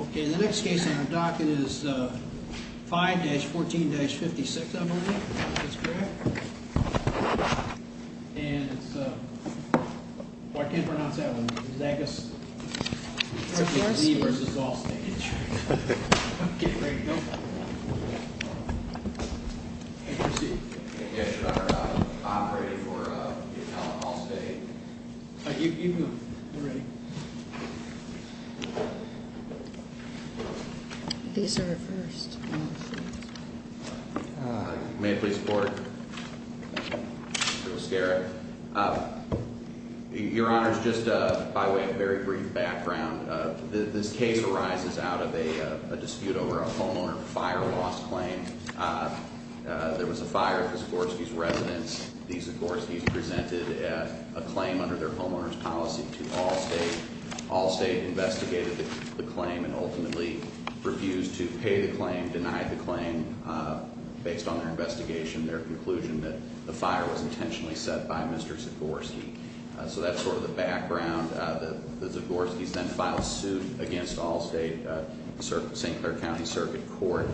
Okay, the next case on our docket is 5-14-56, I believe. That's correct. And it's... Well, I can't pronounce that one. Zagorski v. Allstate Insurance. Okay, ready to go? Take your seat. Yes, Your Honor. Operating for Intel and Allstate. You can go. We're ready. These are our first witnesses. May I please report? Mr. Lascari. Your Honor, just by way of very brief background, this case arises out of a dispute over a homeowner fire loss claim. There was a fire at the Zagorski's residence. These Zagorski's presented a claim under their homeowner's policy to Allstate. Allstate investigated the claim and ultimately refused to pay the claim, denied the claim. Based on their investigation, their conclusion that the fire was intentionally set by Mr. Zagorski. So that's sort of the background. The Zagorski's then filed suit against Allstate, St. Clair County Circuit Court.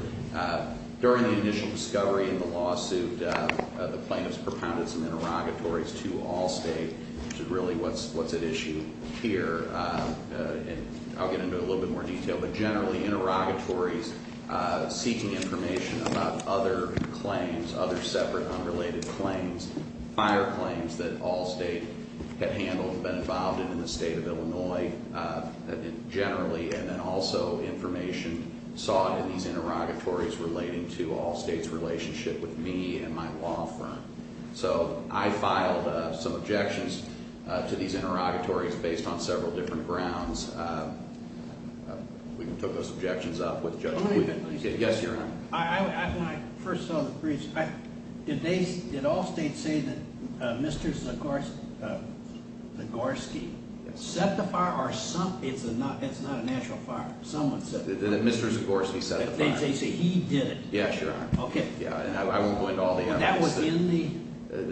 During the initial discovery in the lawsuit, the plaintiffs propounded some interrogatories to Allstate. Which is really what's at issue here. And I'll get into it in a little bit more detail. But generally interrogatories seeking information about other claims, other separate unrelated claims, fire claims that Allstate had handled, been involved in, in the state of Illinois generally. And then also information sought in these interrogatories relating to Allstate's relationship with me and my law firm. So I filed some objections to these interrogatories based on several different grounds. We can put those objections up with Judge Quigley. Yes, Your Honor. When I first saw the briefs, did Allstate say that Mr. Zagorski set the fire? It's not a natural fire. Someone set the fire. That Mr. Zagorski set the fire. They say he did it. Yes, Your Honor. Okay. I won't go into all the evidence. But that was in the brief?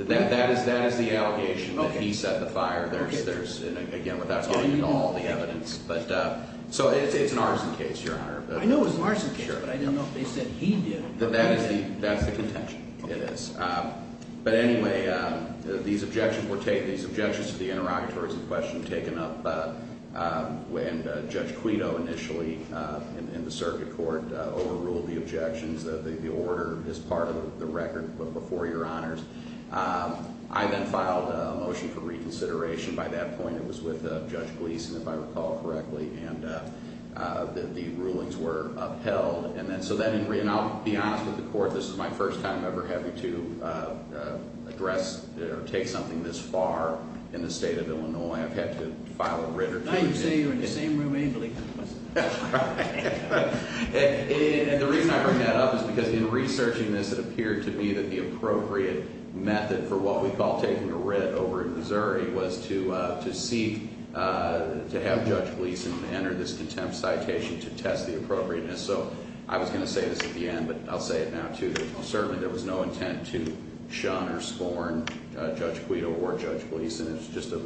That is the allegation that he set the fire. Again, without going into all the evidence. So it's an arson case, Your Honor. I know it's an arson case, but I didn't know if they said he did it. That's the contention. It is. But anyway, these objections to the interrogatories in question taken up, and Judge Quito initially in the circuit court overruled the objections. The order is part of the record before Your Honors. I then filed a motion for reconsideration. By that point, it was with Judge Gleason, if I recall correctly, and the rulings were upheld. And I'll be honest with the court, this is my first time ever having to address or take something this far in the state of Illinois. I've had to file a writ or two. I would say you're in the same room angrily. And the reason I bring that up is because in researching this, it appeared to me that the appropriate method for what we call taking a writ over in Missouri was to seek to have Judge Gleason enter this contempt citation to test the appropriateness. So I was going to say this at the end, but I'll say it now too. Certainly there was no intent to shun or scorn Judge Quito or Judge Gleason. It was just a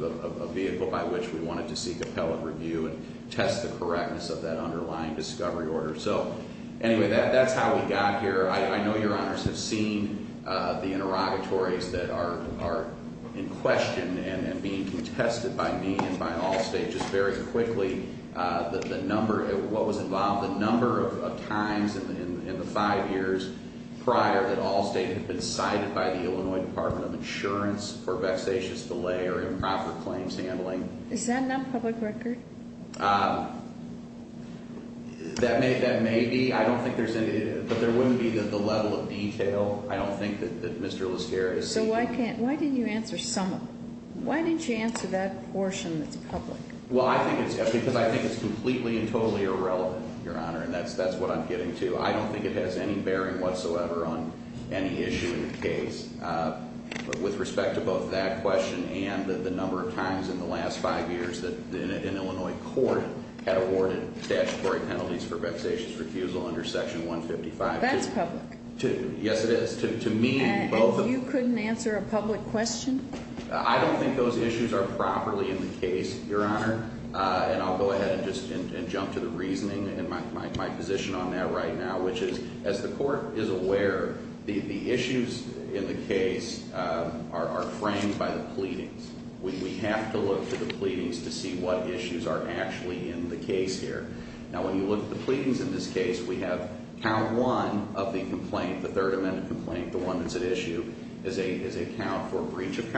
vehicle by which we wanted to seek appellate review and test the correctness of that underlying discovery order. So anyway, that's how we got here. I know Your Honors have seen the interrogatories that are in question and being contested by me and by all states just very quickly. What was involved, the number of times in the five years prior that all states had been cited by the Illinois Department of Insurance for vexatious delay or improper claims handling. Is that not public record? That may be. I don't think there's any, but there wouldn't be the level of detail. I don't think that Mr. Listeria is seeking. So why didn't you answer some of it? Why didn't you answer that portion that's public? Because I think it's completely and totally irrelevant, Your Honor, and that's what I'm getting to. I don't think it has any bearing whatsoever on any issue in the case. With respect to both that question and the number of times in the last five years that an Illinois court had awarded statutory penalties for vexatious refusal under Section 155. That's public. Yes, it is. And you couldn't answer a public question? I don't think those issues are properly in the case, Your Honor. And I'll go ahead and just jump to the reasoning and my position on that right now, which is as the court is aware, the issues in the case are framed by the pleadings. We have to look to the pleadings to see what issues are actually in the case here. Now, when you look at the pleadings in this case, we have Count 1 of the complaint, the Third Amendment complaint, the one that's at issue, is a count for breach of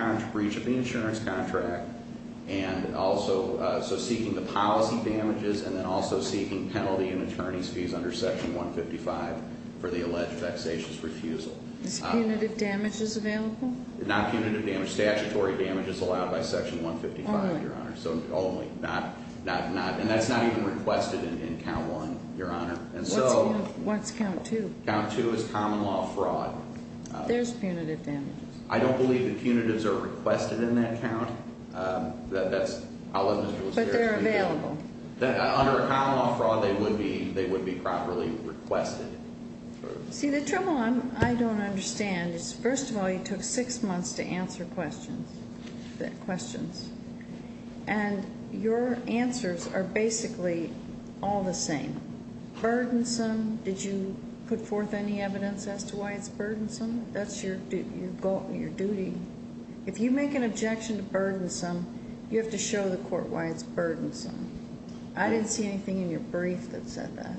the insurance contract and also seeking the policy damages and then also seeking penalty and attorney's fees under Section 155 for the alleged vexatious refusal. Is punitive damages available? Not punitive damage. Statutory damage is allowed by Section 155, Your Honor. Only? Only. And that's not even requested in Count 1, Your Honor. What's Count 2? Count 2 is common law fraud. There's punitive damages. I don't believe the punitives are requested in that count. But they're available. Under common law fraud, they would be properly requested. See, the trouble I don't understand is, first of all, you took six months to answer questions. And your answers are basically all the same. Burdensome. Did you put forth any evidence as to why it's burdensome? That's your duty. If you make an objection to burdensome, you have to show the court why it's burdensome. I didn't see anything in your brief that said that.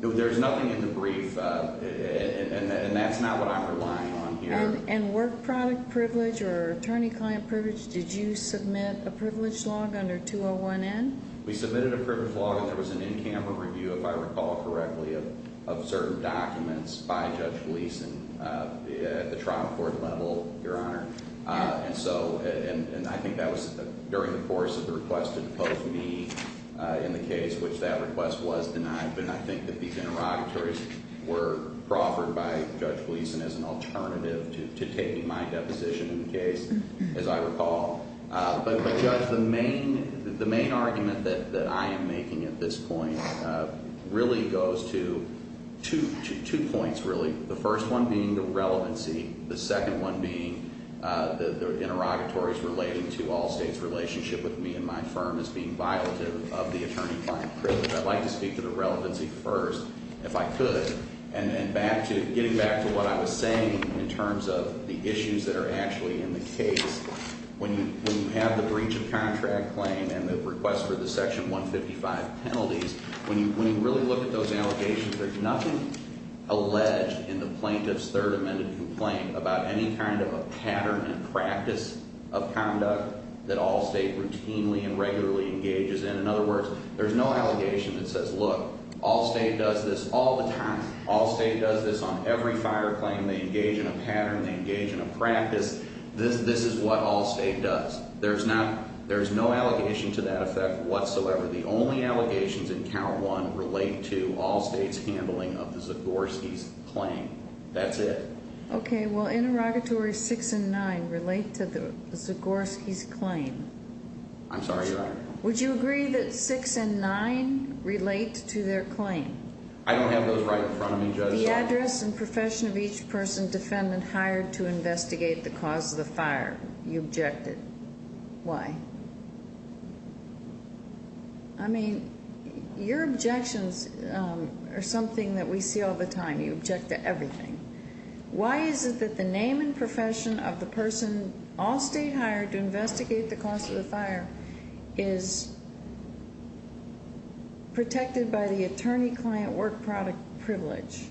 There's nothing in the brief, and that's not what I'm relying on here. And work product privilege or attorney-client privilege, did you submit a privilege log under 201N? We submitted a privilege log, and there was an in-camera review, if I recall correctly, of certain documents by Judge Gleeson at the trial court level, Your Honor. And I think that was during the course of the request to depose me in the case, which that request was denied. But I think that these interrogatories were proffered by Judge Gleeson as an alternative to taking my deposition in the case, as I recall. But, Judge, the main argument that I am making at this point really goes to two points, really. The first one being the relevancy. The second one being the interrogatories relating to all states' relationship with me and my firm as being violative of the attorney-client privilege. I'd like to speak to the relevancy first, if I could, and then getting back to what I was saying in terms of the issues that are actually in the case. When you have the breach of contract claim and the request for the Section 155 penalties, when you really look at those allegations, there's nothing alleged in the plaintiff's third amended complaint about any kind of a pattern and practice of conduct that all state routinely and regularly engages in. In other words, there's no allegation that says, Look, all state does this all the time. All state does this on every fire claim. They engage in a pattern. They engage in a practice. This is what all state does. There's no allegation to that effect whatsoever. The only allegations in Count 1 relate to all states' handling of the Zagorski's claim. That's it. Okay. Well, interrogatories 6 and 9 relate to the Zagorski's claim. I'm sorry, Your Honor. Would you agree that 6 and 9 relate to their claim? I don't have those right in front of me, Judge. The address and profession of each person defendant hired to investigate the cause of the fire, you objected. Why? I mean, your objections are something that we see all the time. You object to everything. Why is it that the name and profession of the person all state hired to investigate the cause of the fire is protected by the attorney-client work product privilege?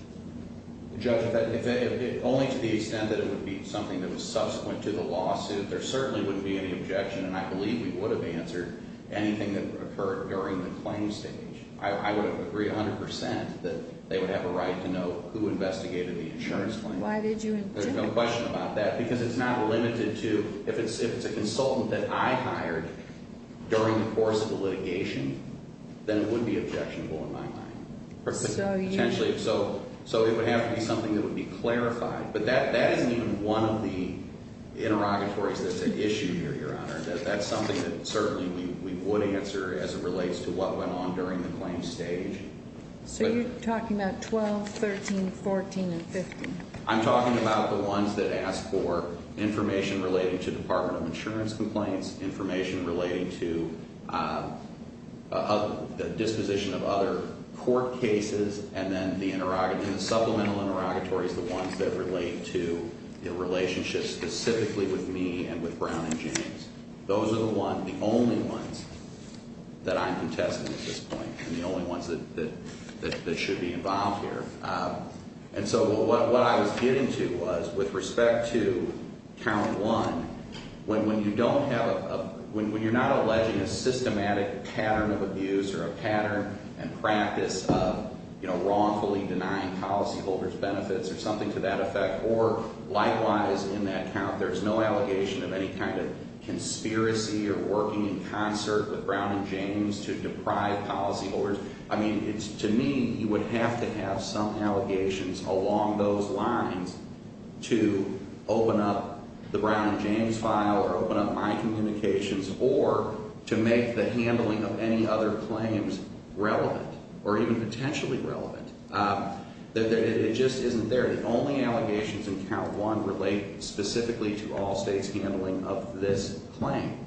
Judge, if only to the extent that it would be something that was subsequent to the lawsuit, there certainly wouldn't be any objection. And I believe we would have answered anything that occurred during the claim stage. I would agree 100% that they would have a right to know who investigated the insurance claim. Why did you object? There's no question about that because it's not limited to if it's a consultant that I hired during the course of the litigation, then it would be objectionable in my mind. So you – Potentially. So it would have to be something that would be clarified. But that isn't even one of the interrogatories that's at issue here, Your Honor. That's something that certainly we would answer as it relates to what went on during the claim stage. So you're talking about 12, 13, 14, and 15? I'm talking about the ones that ask for information relating to Department of Insurance complaints, information relating to disposition of other court cases, and then the interrogatory – the supplemental interrogatories, the ones that relate to the relationship specifically with me and with Brown and James. Those are the one – the only ones that I'm contesting at this point and the only ones that should be involved here. And so what I was getting to was with respect to count one, when you don't have a – when you're not alleging a systematic pattern of abuse or a pattern and practice of wrongfully denying policyholders benefits or something to that effect, or likewise in that count, there's no allegation of any kind of conspiracy or working in concert with Brown and James to deprive policyholders. I mean, it's – to me, you would have to have some allegations along those lines to open up the Brown and James file or open up my communications or to make the handling of any other claims relevant or even potentially relevant. It just isn't there. The only allegations in count one relate specifically to all states handling of this claim.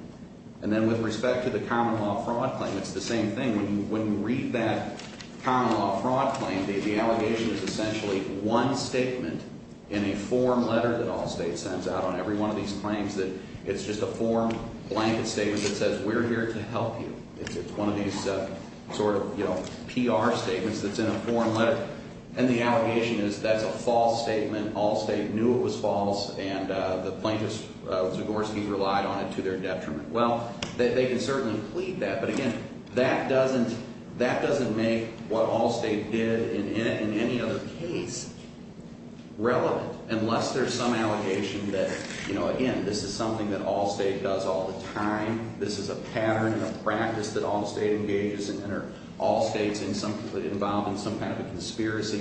And then with respect to the common law fraud claim, it's the same thing. When you read that common law fraud claim, the allegation is essentially one statement in a form letter that all states sends out on every one of these claims that – it's just a form blanket statement that says we're here to help you. It's one of these sort of, you know, PR statements that's in a form letter, and the allegation is that's a false statement. All state knew it was false, and the plaintiffs, Zagorski, relied on it to their detriment. Well, they can certainly plead that. But again, that doesn't make what all state did in any other case relevant unless there's some allegation that, you know, again, this is something that all state does all the time. This is a pattern and a practice that all state engages in or all states involved in some kind of a conspiracy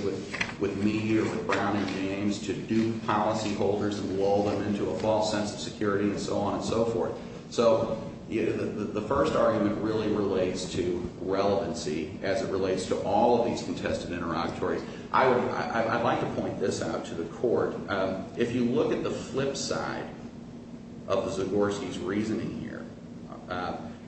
with media or with Brown and James to dupe policyholders and lull them into a false sense of security and so on and so forth. So the first argument really relates to relevancy as it relates to all of these contested interlocutories. I would – I'd like to point this out to the court. If you look at the flip side of Zagorski's reasoning here,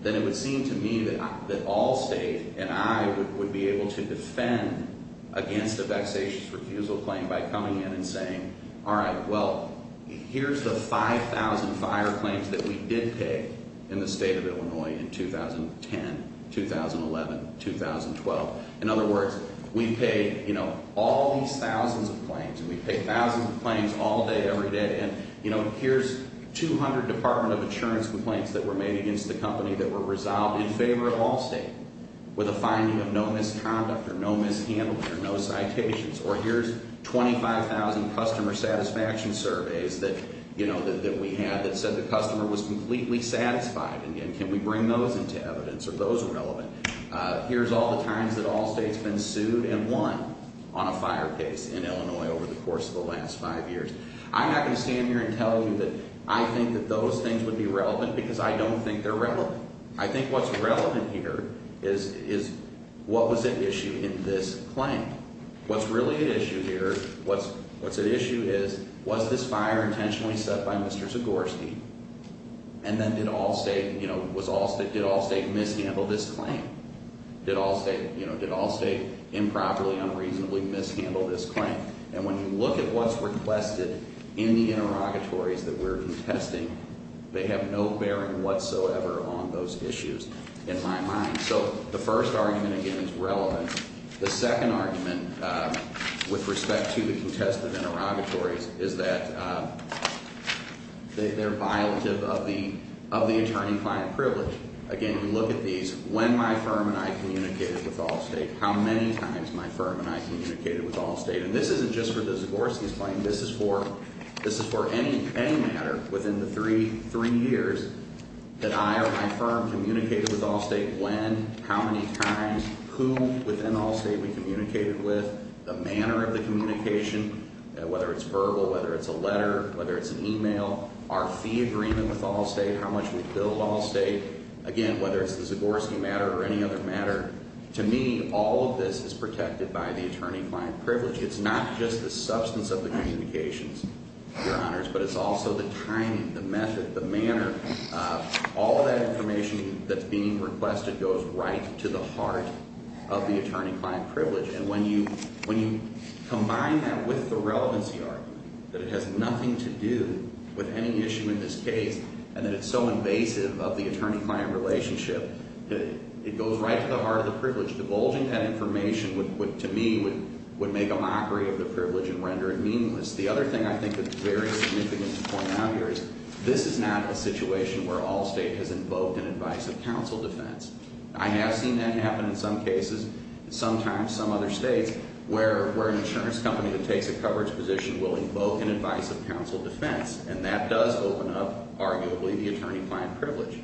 then it would seem to me that all state and I would be able to defend against a vexatious refusal claim by coming in and saying, all right, well, here's the 5,000 fire claims that we did pay in the state of Illinois in 2010, 2011, 2012. In other words, we've paid all these thousands of claims and we've paid thousands of claims all day every day. And here's 200 Department of Insurance complaints that were made against the company that were resolved in favor of all state with a finding of no misconduct or no mishandling or no citations. Or here's 25,000 customer satisfaction surveys that we had that said the customer was completely satisfied. And can we bring those into evidence? Are those relevant? Here's all the times that all states have been sued and won on a fire case in Illinois over the course of the last five years. I'm not going to stand here and tell you that I think that those things would be relevant because I don't think they're relevant. I think what's relevant here is what was at issue in this claim. What's really at issue here, what's at issue is, was this fire intentionally set by Mr. Zagorski? And then did all state, you know, did all state mishandle this claim? Did all state, you know, did all state improperly, unreasonably mishandle this claim? And when you look at what's requested in the interrogatories that we're contesting, they have no bearing whatsoever on those issues in my mind. So the first argument, again, is relevant. The second argument with respect to the contested interrogatories is that they're violative of the attorney-client privilege. Again, you look at these, when my firm and I communicated with all state, how many times my firm and I communicated with all state. And this isn't just for the Zagorski's claim. This is for any matter within the three years that I or my firm communicated with all state. When, how many times, who within all state we communicated with, the manner of the communication, whether it's verbal, whether it's a letter, whether it's an email, our fee agreement with all state, how much we billed all state. Again, whether it's the Zagorski matter or any other matter, to me, all of this is protected by the attorney-client privilege. It's not just the substance of the communications, Your Honors, but it's also the timing, the method, the manner. All of that information that's being requested goes right to the heart of the attorney-client privilege. And when you combine that with the relevancy argument, that it has nothing to do with any issue in this case and that it's so invasive of the attorney-client relationship, it goes right to the heart of the privilege. So divulging that information would, to me, would make a mockery of the privilege and render it meaningless. The other thing I think that's very significant to point out here is this is not a situation where all state has invoked an advice of counsel defense. I have seen that happen in some cases, sometimes some other states, where an insurance company that takes a coverage position will invoke an advice of counsel defense. And that does open up, arguably, the attorney-client privilege.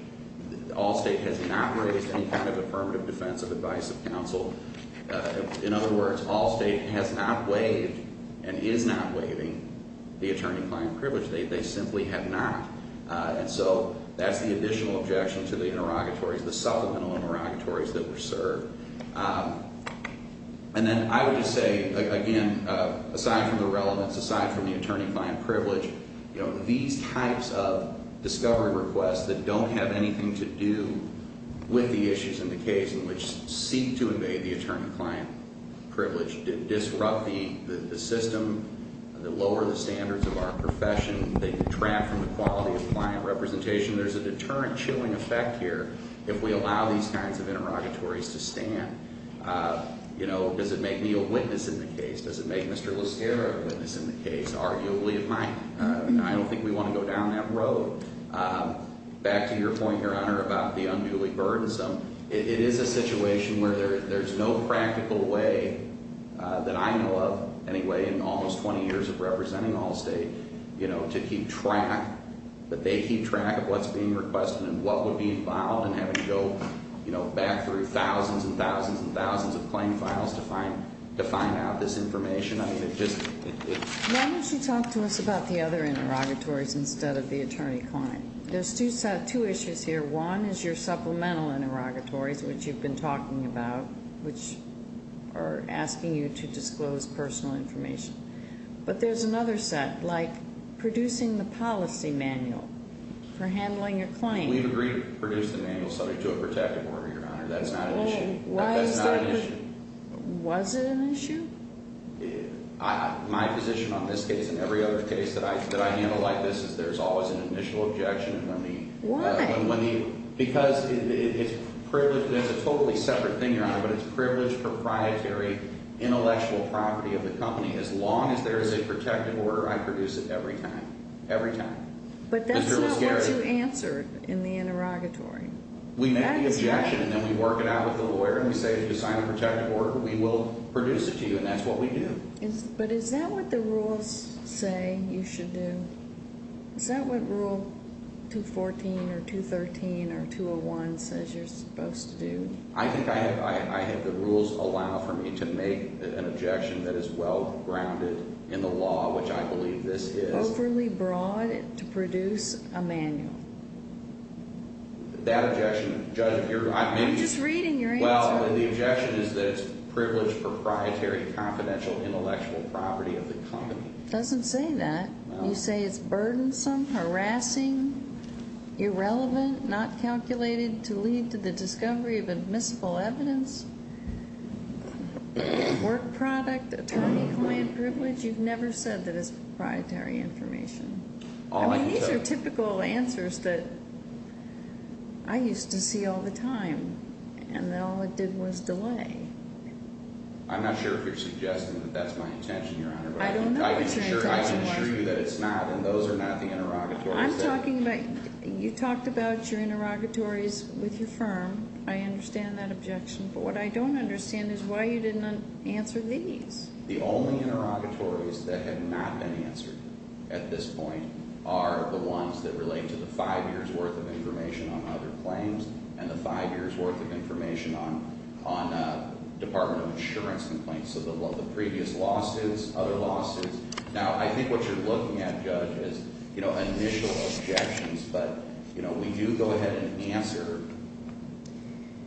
All state has not raised any kind of affirmative defense of advice of counsel. In other words, all state has not waived and is not waiving the attorney-client privilege. They simply have not. And so that's the additional objection to the interrogatories, the supplemental interrogatories that were served. And then I would just say, again, aside from the relevance, aside from the attorney-client privilege, these types of discovery requests that don't have anything to do with the issues in the case and which seek to invade the attorney-client privilege, disrupt the system, lower the standards of our profession, they detract from the quality of client representation. There's a deterrent chilling effect here if we allow these kinds of interrogatories to stand. You know, does it make me a witness in the case? Does it make Mr. Lascara a witness in the case? Arguably, it might. I don't think we want to go down that road. Back to your point, Your Honor, about the unduly burdensome, it is a situation where there's no practical way that I know of, anyway, in almost 20 years of representing Allstate, you know, to keep track, that they keep track of what's being requested and what would be involved in having to go, you know, back through thousands and thousands and thousands of claim files to find out this information. I mean, it just — Why don't you talk to us about the other interrogatories instead of the attorney-client? There's two issues here. One is your supplemental interrogatories, which you've been talking about, which are asking you to disclose personal information. But there's another set, like producing the policy manual for handling a claim. We've agreed to produce the manual subject to a protective order, Your Honor. That's not an issue. Why is that? That's not an issue. Was it an issue? My position on this case and every other case that I handle like this is there's always an initial objection. Why? Because it's privileged — it's a totally separate thing, Your Honor, but it's privileged, proprietary, intellectual property of the company. As long as there is a protective order, I produce it every time, every time. But that's not what you answer in the interrogatory. We make the objection, and then we work it out with the lawyer, and we say, if you sign a protective order, we will produce it to you, and that's what we do. But is that what the rules say you should do? Is that what Rule 214 or 213 or 201 says you're supposed to do? I think I have the rules allow for me to make an objection that is well-grounded in the law, which I believe this is. Overly broad to produce a manual. That objection, Judge, if you're — I'm just reading your answer. Well, the objection is that it's privileged, proprietary, confidential, intellectual property of the company. It doesn't say that. You say it's burdensome, harassing, irrelevant, not calculated to lead to the discovery of admissible evidence, work product, attorney-client privilege. You've never said that it's proprietary information. I mean, these are typical answers that I used to see all the time, and that all it did was delay. I'm not sure if you're suggesting that that's my intention, Your Honor. I don't know what your intention was. I can assure you that it's not, and those are not the interrogatories. I'm talking about — you talked about your interrogatories with your firm. I understand that objection. But what I don't understand is why you didn't answer these. The only interrogatories that have not been answered at this point are the ones that relate to the five years' worth of information on other claims and the five years' worth of information on Department of Insurance complaints. So the previous losses, other losses. Now, I think what you're looking at, Judge, is initial objections. But we do go ahead and answer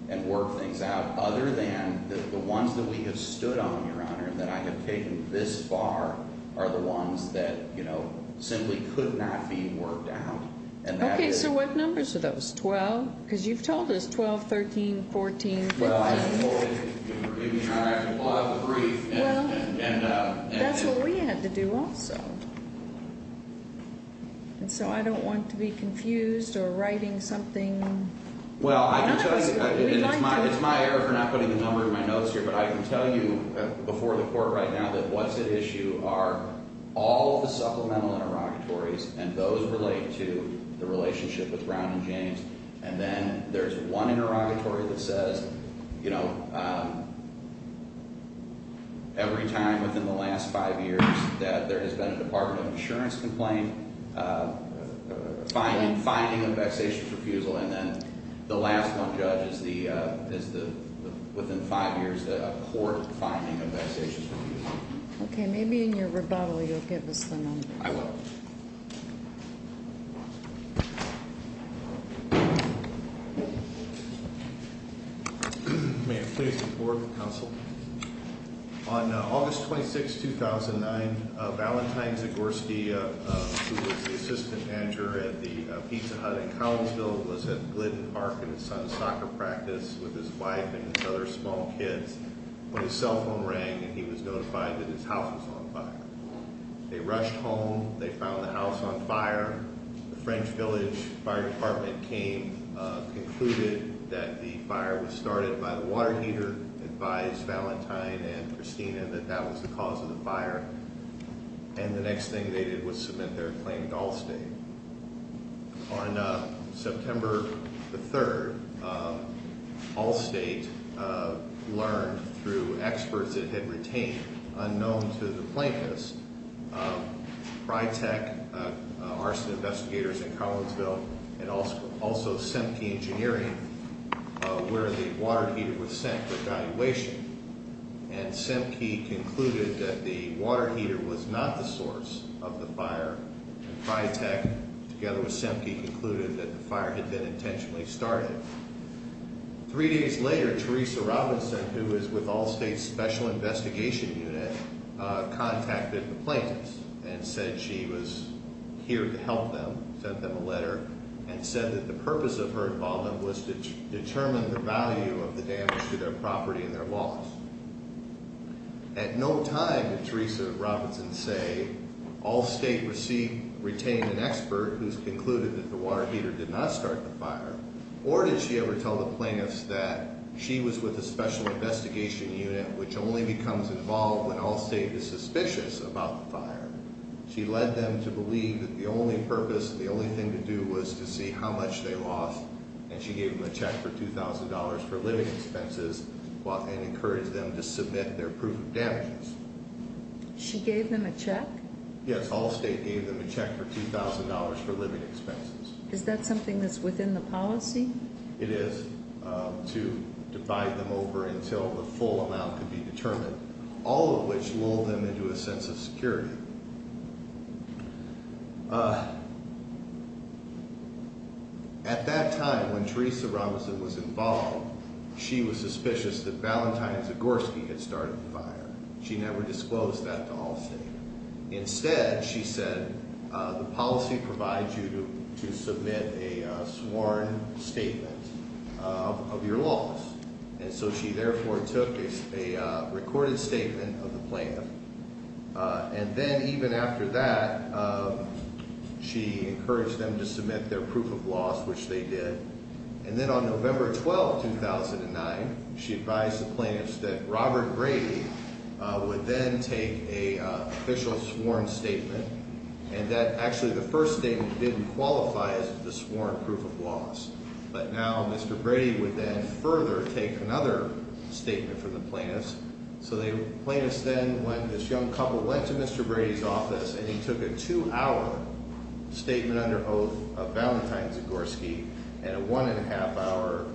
and work things out, other than the ones that we have stood on, Your Honor, that I have taken this far are the ones that simply could not be worked out. Okay. So what numbers are those, 12? Because you've told us 12, 13, 14, 15. You forgive me, Your Honor. I have to pull out the brief. Well, that's what we had to do also. And so I don't want to be confused or writing something. Well, I can tell you — it's my error for not putting the number in my notes here, but I can tell you before the court right now that what's at issue are all the supplemental interrogatories, and those relate to the relationship with Brown and James. And then there's one interrogatory that says, you know, every time within the last five years that there has been a Department of Insurance complaint finding a vexatious refusal. And then the last one, Judge, is within five years a court finding a vexatious refusal. Okay. Maybe in your rebuttal you'll give us the numbers. I will. May I please report, counsel? On August 26, 2009, Valentine Zagorski, who was the assistant manager at the Pizza Hut in Collinsville, was at Glidden Park in his son's soccer practice with his wife and his other small kids when his cell phone rang and he was notified that his house was on fire. They rushed home. They found the house on fire. The French Village Fire Department came, concluded that the fire was started by the water heater, advised Valentine and Christina that that was the cause of the fire, and the next thing they did was submit their claim to Allstate. On September the 3rd, Allstate learned through experts it had retained, unknown to the plaintiffs, Prytec, arson investigators in Collinsville, and also Sempke Engineering, where the water heater was sent for evaluation. And Sempke concluded that the water heater was not the source of the fire, and Prytec, together with Sempke, concluded that the fire had been intentionally started. Three days later, Teresa Robinson, who is with Allstate's Special Investigation Unit, contacted the plaintiffs and said she was here to help them, sent them a letter, and said that the purpose of her involvement was to determine the value of the damage to their property and their loss. At no time did Teresa Robinson say, Allstate retained an expert who has concluded that the water heater did not start the fire, or did she ever tell the plaintiffs that she was with the Special Investigation Unit, which only becomes involved when Allstate is suspicious about the fire. She led them to believe that the only purpose, the only thing to do was to see how much they lost, and she gave them a check for $2,000 for living expenses and encouraged them to submit their proof of damages. She gave them a check? Yes, Allstate gave them a check for $2,000 for living expenses. Is that something that's within the policy? It is, to divide them over until the full amount could be determined, all of which lulled them into a sense of security. At that time, when Teresa Robinson was involved, she was suspicious that Valentine Zagorski had started the fire. She never disclosed that to Allstate. Instead, she said, the policy provides you to submit a sworn statement of your loss. And so she therefore took a recorded statement of the plaintiff. And then even after that, she encouraged them to submit their proof of loss, which they did. And then on November 12, 2009, she advised the plaintiffs that Robert Brady would then take an official sworn statement, and that actually the first statement didn't qualify as the sworn proof of loss. But now Mr. Brady would then further take another statement from the plaintiffs. So the plaintiffs then, when this young couple went to Mr. Brady's office, and he took a two-hour statement under oath of Valentine Zagorski and a one-and-a-half-hour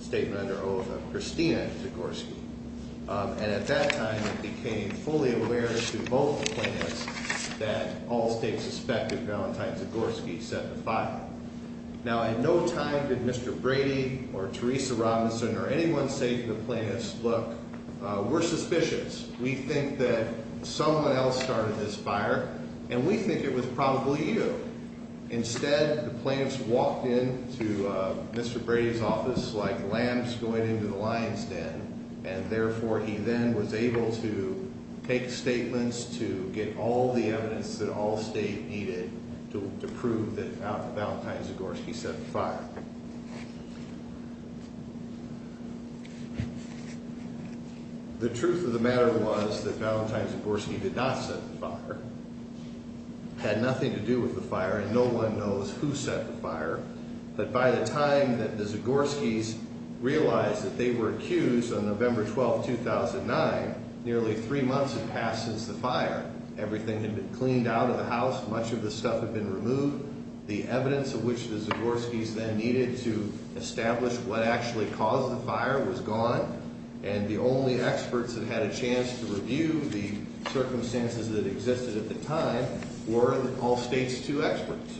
statement under oath of Christina Zagorski. And at that time, he became fully aware to both the plaintiffs that Allstate suspected Valentine Zagorski set the fire. Now, at no time did Mr. Brady or Teresa Robinson or anyone say to the plaintiffs, look, we're suspicious. We think that someone else started this fire, and we think it was probably you. Instead, the plaintiffs walked into Mr. Brady's office like lambs going into the lion's den, and therefore he then was able to take statements to get all the evidence that Allstate needed to prove that Valentine Zagorski set the fire. The truth of the matter was that Valentine Zagorski did not set the fire, had nothing to do with the fire, and no one knows who set the fire. But by the time that the Zagorskis realized that they were accused on November 12, 2009, nearly three months had passed since the fire. Everything had been cleaned out of the house. Much of the stuff had been removed. The evidence of which the Zagorskis then needed to establish what actually caused the fire was gone, and the only experts that had a chance to review the circumstances that existed at the time were Allstate's two experts.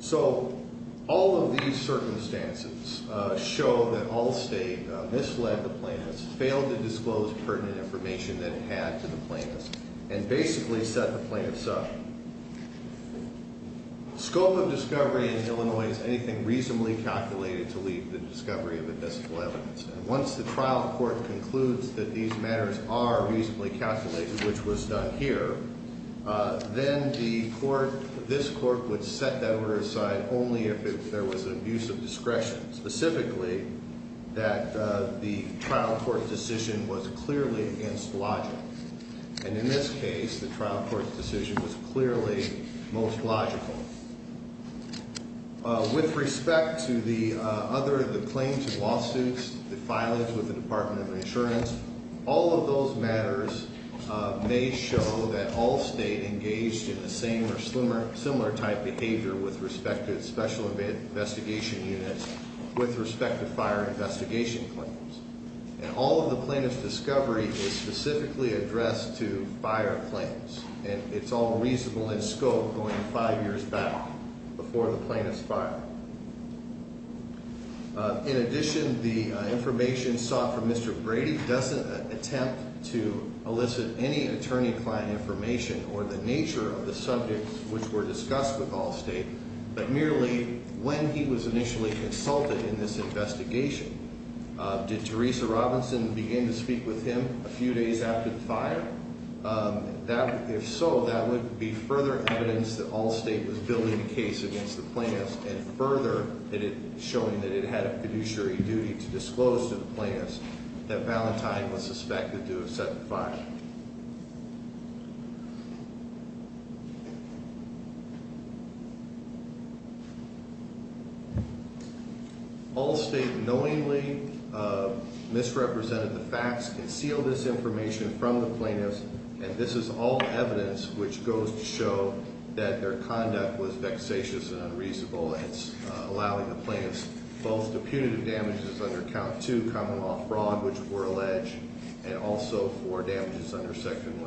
So all of these circumstances show that Allstate misled the plaintiffs, failed to disclose pertinent information that it had to the plaintiffs, and basically set the plaintiffs up. Scope of discovery in Illinois is anything reasonably calculated to lead to the discovery of indiscipline evidence. Once the trial court concludes that these matters are reasonably calculated, which was done here, then this court would set that order aside only if there was an abuse of discretion, specifically that the trial court decision was clearly against logic. And in this case, the trial court decision was clearly most logical. With respect to the other, the claims and lawsuits, the filings with the Department of Insurance, all of those matters may show that Allstate engaged in the same or similar type behavior with respect to special investigation units with respect to fire investigation claims. And all of the plaintiff's discovery is specifically addressed to fire claims. And it's all reasonable in scope going five years back before the plaintiffs filed. In addition, the information sought from Mr. Brady doesn't attempt to elicit any attorney client information or the nature of the subjects which were discussed with Allstate, but merely when he was initially consulted in this investigation. Did Teresa Robinson begin to speak with him a few days after the fire? If so, that would be further evidence that Allstate was building a case against the plaintiffs and further showing that it had a fiduciary duty to disclose to the plaintiffs that Valentine was suspected to have set the fire. Allstate knowingly misrepresented the facts, concealed this information from the plaintiffs, and this is all evidence which goes to show that their conduct was vexatious and unreasonable. It's allowing the plaintiffs both the punitive damages under count two, common law fraud, which were alleged, and also for damages under section 155.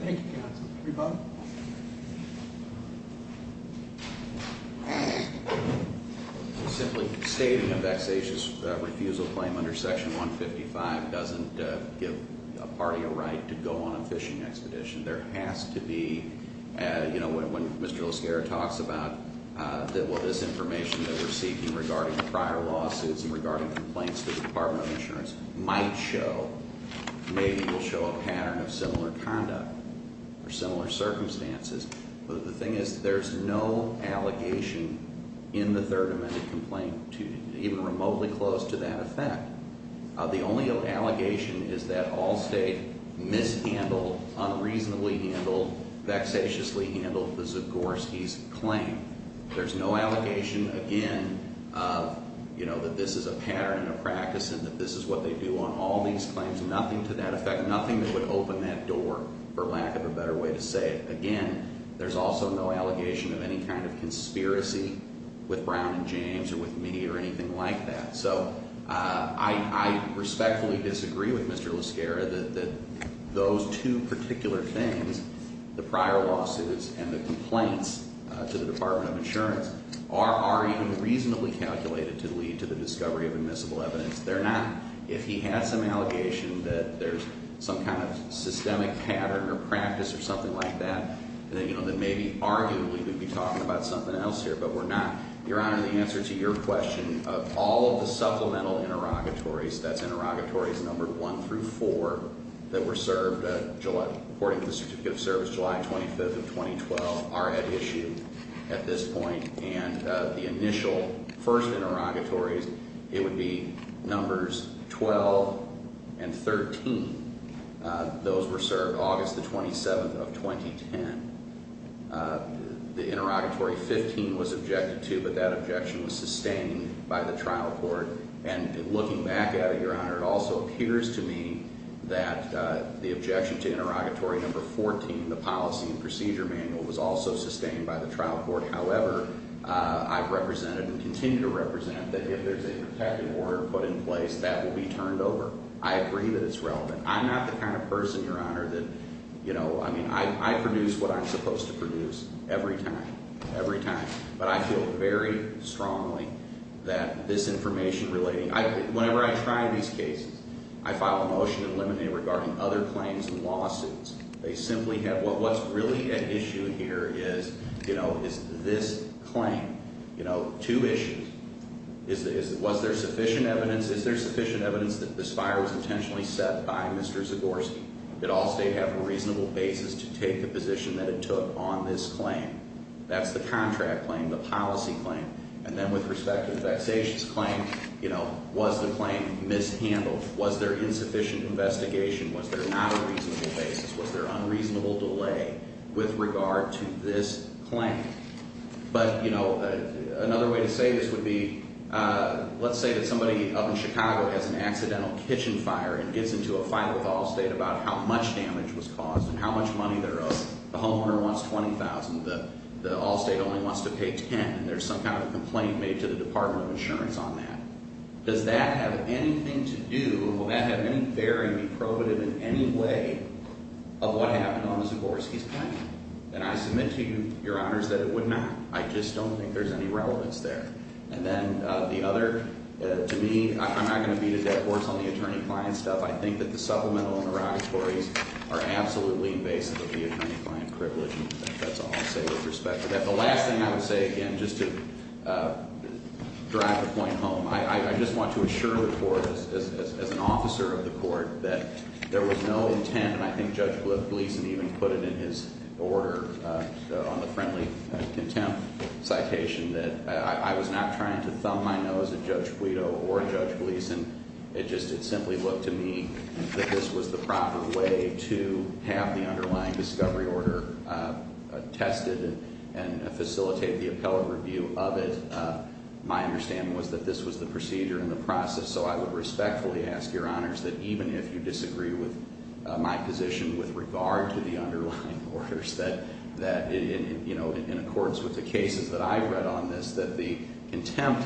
Thank you. Simply stating a vexatious refusal claim under section 155 doesn't give a party a right to go on a fishing expedition. There has to be, you know, when Mr. LaSierra talks about this information that we're seeking regarding the prior lawsuits and regarding complaints the Department of Insurance might show, maybe will show a pattern of similar conduct or similar circumstances. But the thing is, there's no allegation in the Third Amendment complaint to even remotely close to that effect. The only allegation is that Allstate mishandled, unreasonably handled, vexatiously handled the Zagorski's claim. There's no allegation, again, you know, that this is a pattern of practice and that this is what they do on all these claims. Nothing to that effect. Nothing that would open that door, for lack of a better way to say it. Again, there's also no allegation of any kind of conspiracy with Brown and James or with me or anything like that. So I respectfully disagree with Mr. LaSierra that those two particular things, the prior lawsuits and the complaints to the Department of Insurance, are even reasonably calculated to lead to the discovery of admissible evidence. They're not. If he had some allegation that there's some kind of systemic pattern or practice or something like that, then, you know, then maybe arguably we'd be talking about something else here, but we're not. Your Honor, the answer to your question of all of the supplemental interrogatories, that's interrogatories number one through four, that were served according to the certificate of service July 25th of 2012, are at issue at this point. And the initial first interrogatories, it would be numbers 12 and 13. Those were served August the 27th of 2010. The interrogatory 15 was objected to, but that objection was sustained by the trial court. And looking back at it, Your Honor, it also appears to me that the objection to interrogatory number 14, the policy and procedure manual, was also sustained by the trial court. However, I've represented and continue to represent that if there's a protective order put in place, that will be turned over. I agree that it's relevant. I'm not the kind of person, Your Honor, that, you know, I mean, I produce what I'm supposed to produce every time. Every time. But I feel very strongly that this information relating, whenever I try these cases, I file a motion and eliminate it regarding other claims and lawsuits. They simply have, what's really at issue here is, you know, is this claim. You know, two issues. Was there sufficient evidence? Is there sufficient evidence that this fire was intentionally set by Mr. Zagorski? Did Allstate have a reasonable basis to take the position that it took on this claim? That's the contract claim, the policy claim. And then with respect to the vexatious claim, you know, was the claim mishandled? Was there insufficient investigation? Was there not a reasonable basis? Was there unreasonable delay with regard to this claim? But, you know, another way to say this would be, let's say that somebody up in Chicago has an accidental kitchen fire and gets into a fight with Allstate about how much damage was caused and how much money they're owed. The homeowner wants $20,000. The Allstate only wants to pay $10,000. And there's some kind of a complaint made to the Department of Insurance on that. Does that have anything to do, will that have any bearing, be probative in any way, of what happened on Mr. Zagorski's claim? And I submit to you, Your Honors, that it would not. I just don't think there's any relevance there. And then the other, to me, I'm not going to beat a dead horse on the attorney-client stuff. I think that the supplemental and eradicatories are absolutely invasive of the attorney-client privilege. And that's all I'll say with respect to that. The last thing I would say, again, just to drive the point home, I just want to assure the Court, as an officer of the Court, that there was no intent, and I think Judge Gleeson even put it in his order on the friendly contempt citation, that I was not trying to thumb my nose at Judge Guido or Judge Gleeson. It just simply looked to me that this was the proper way to have the underlying discovery order tested and facilitate the appellate review of it. My understanding was that this was the procedure and the process. So I would respectfully ask, Your Honors, that even if you disagree with my position with regard to the underlying orders, that in accordance with the cases that I've read on this, that the contempt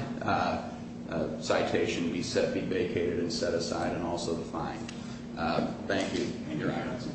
citation be set, be vacated, and set aside, and also the fine. Thank you. Thank you, Your Honors.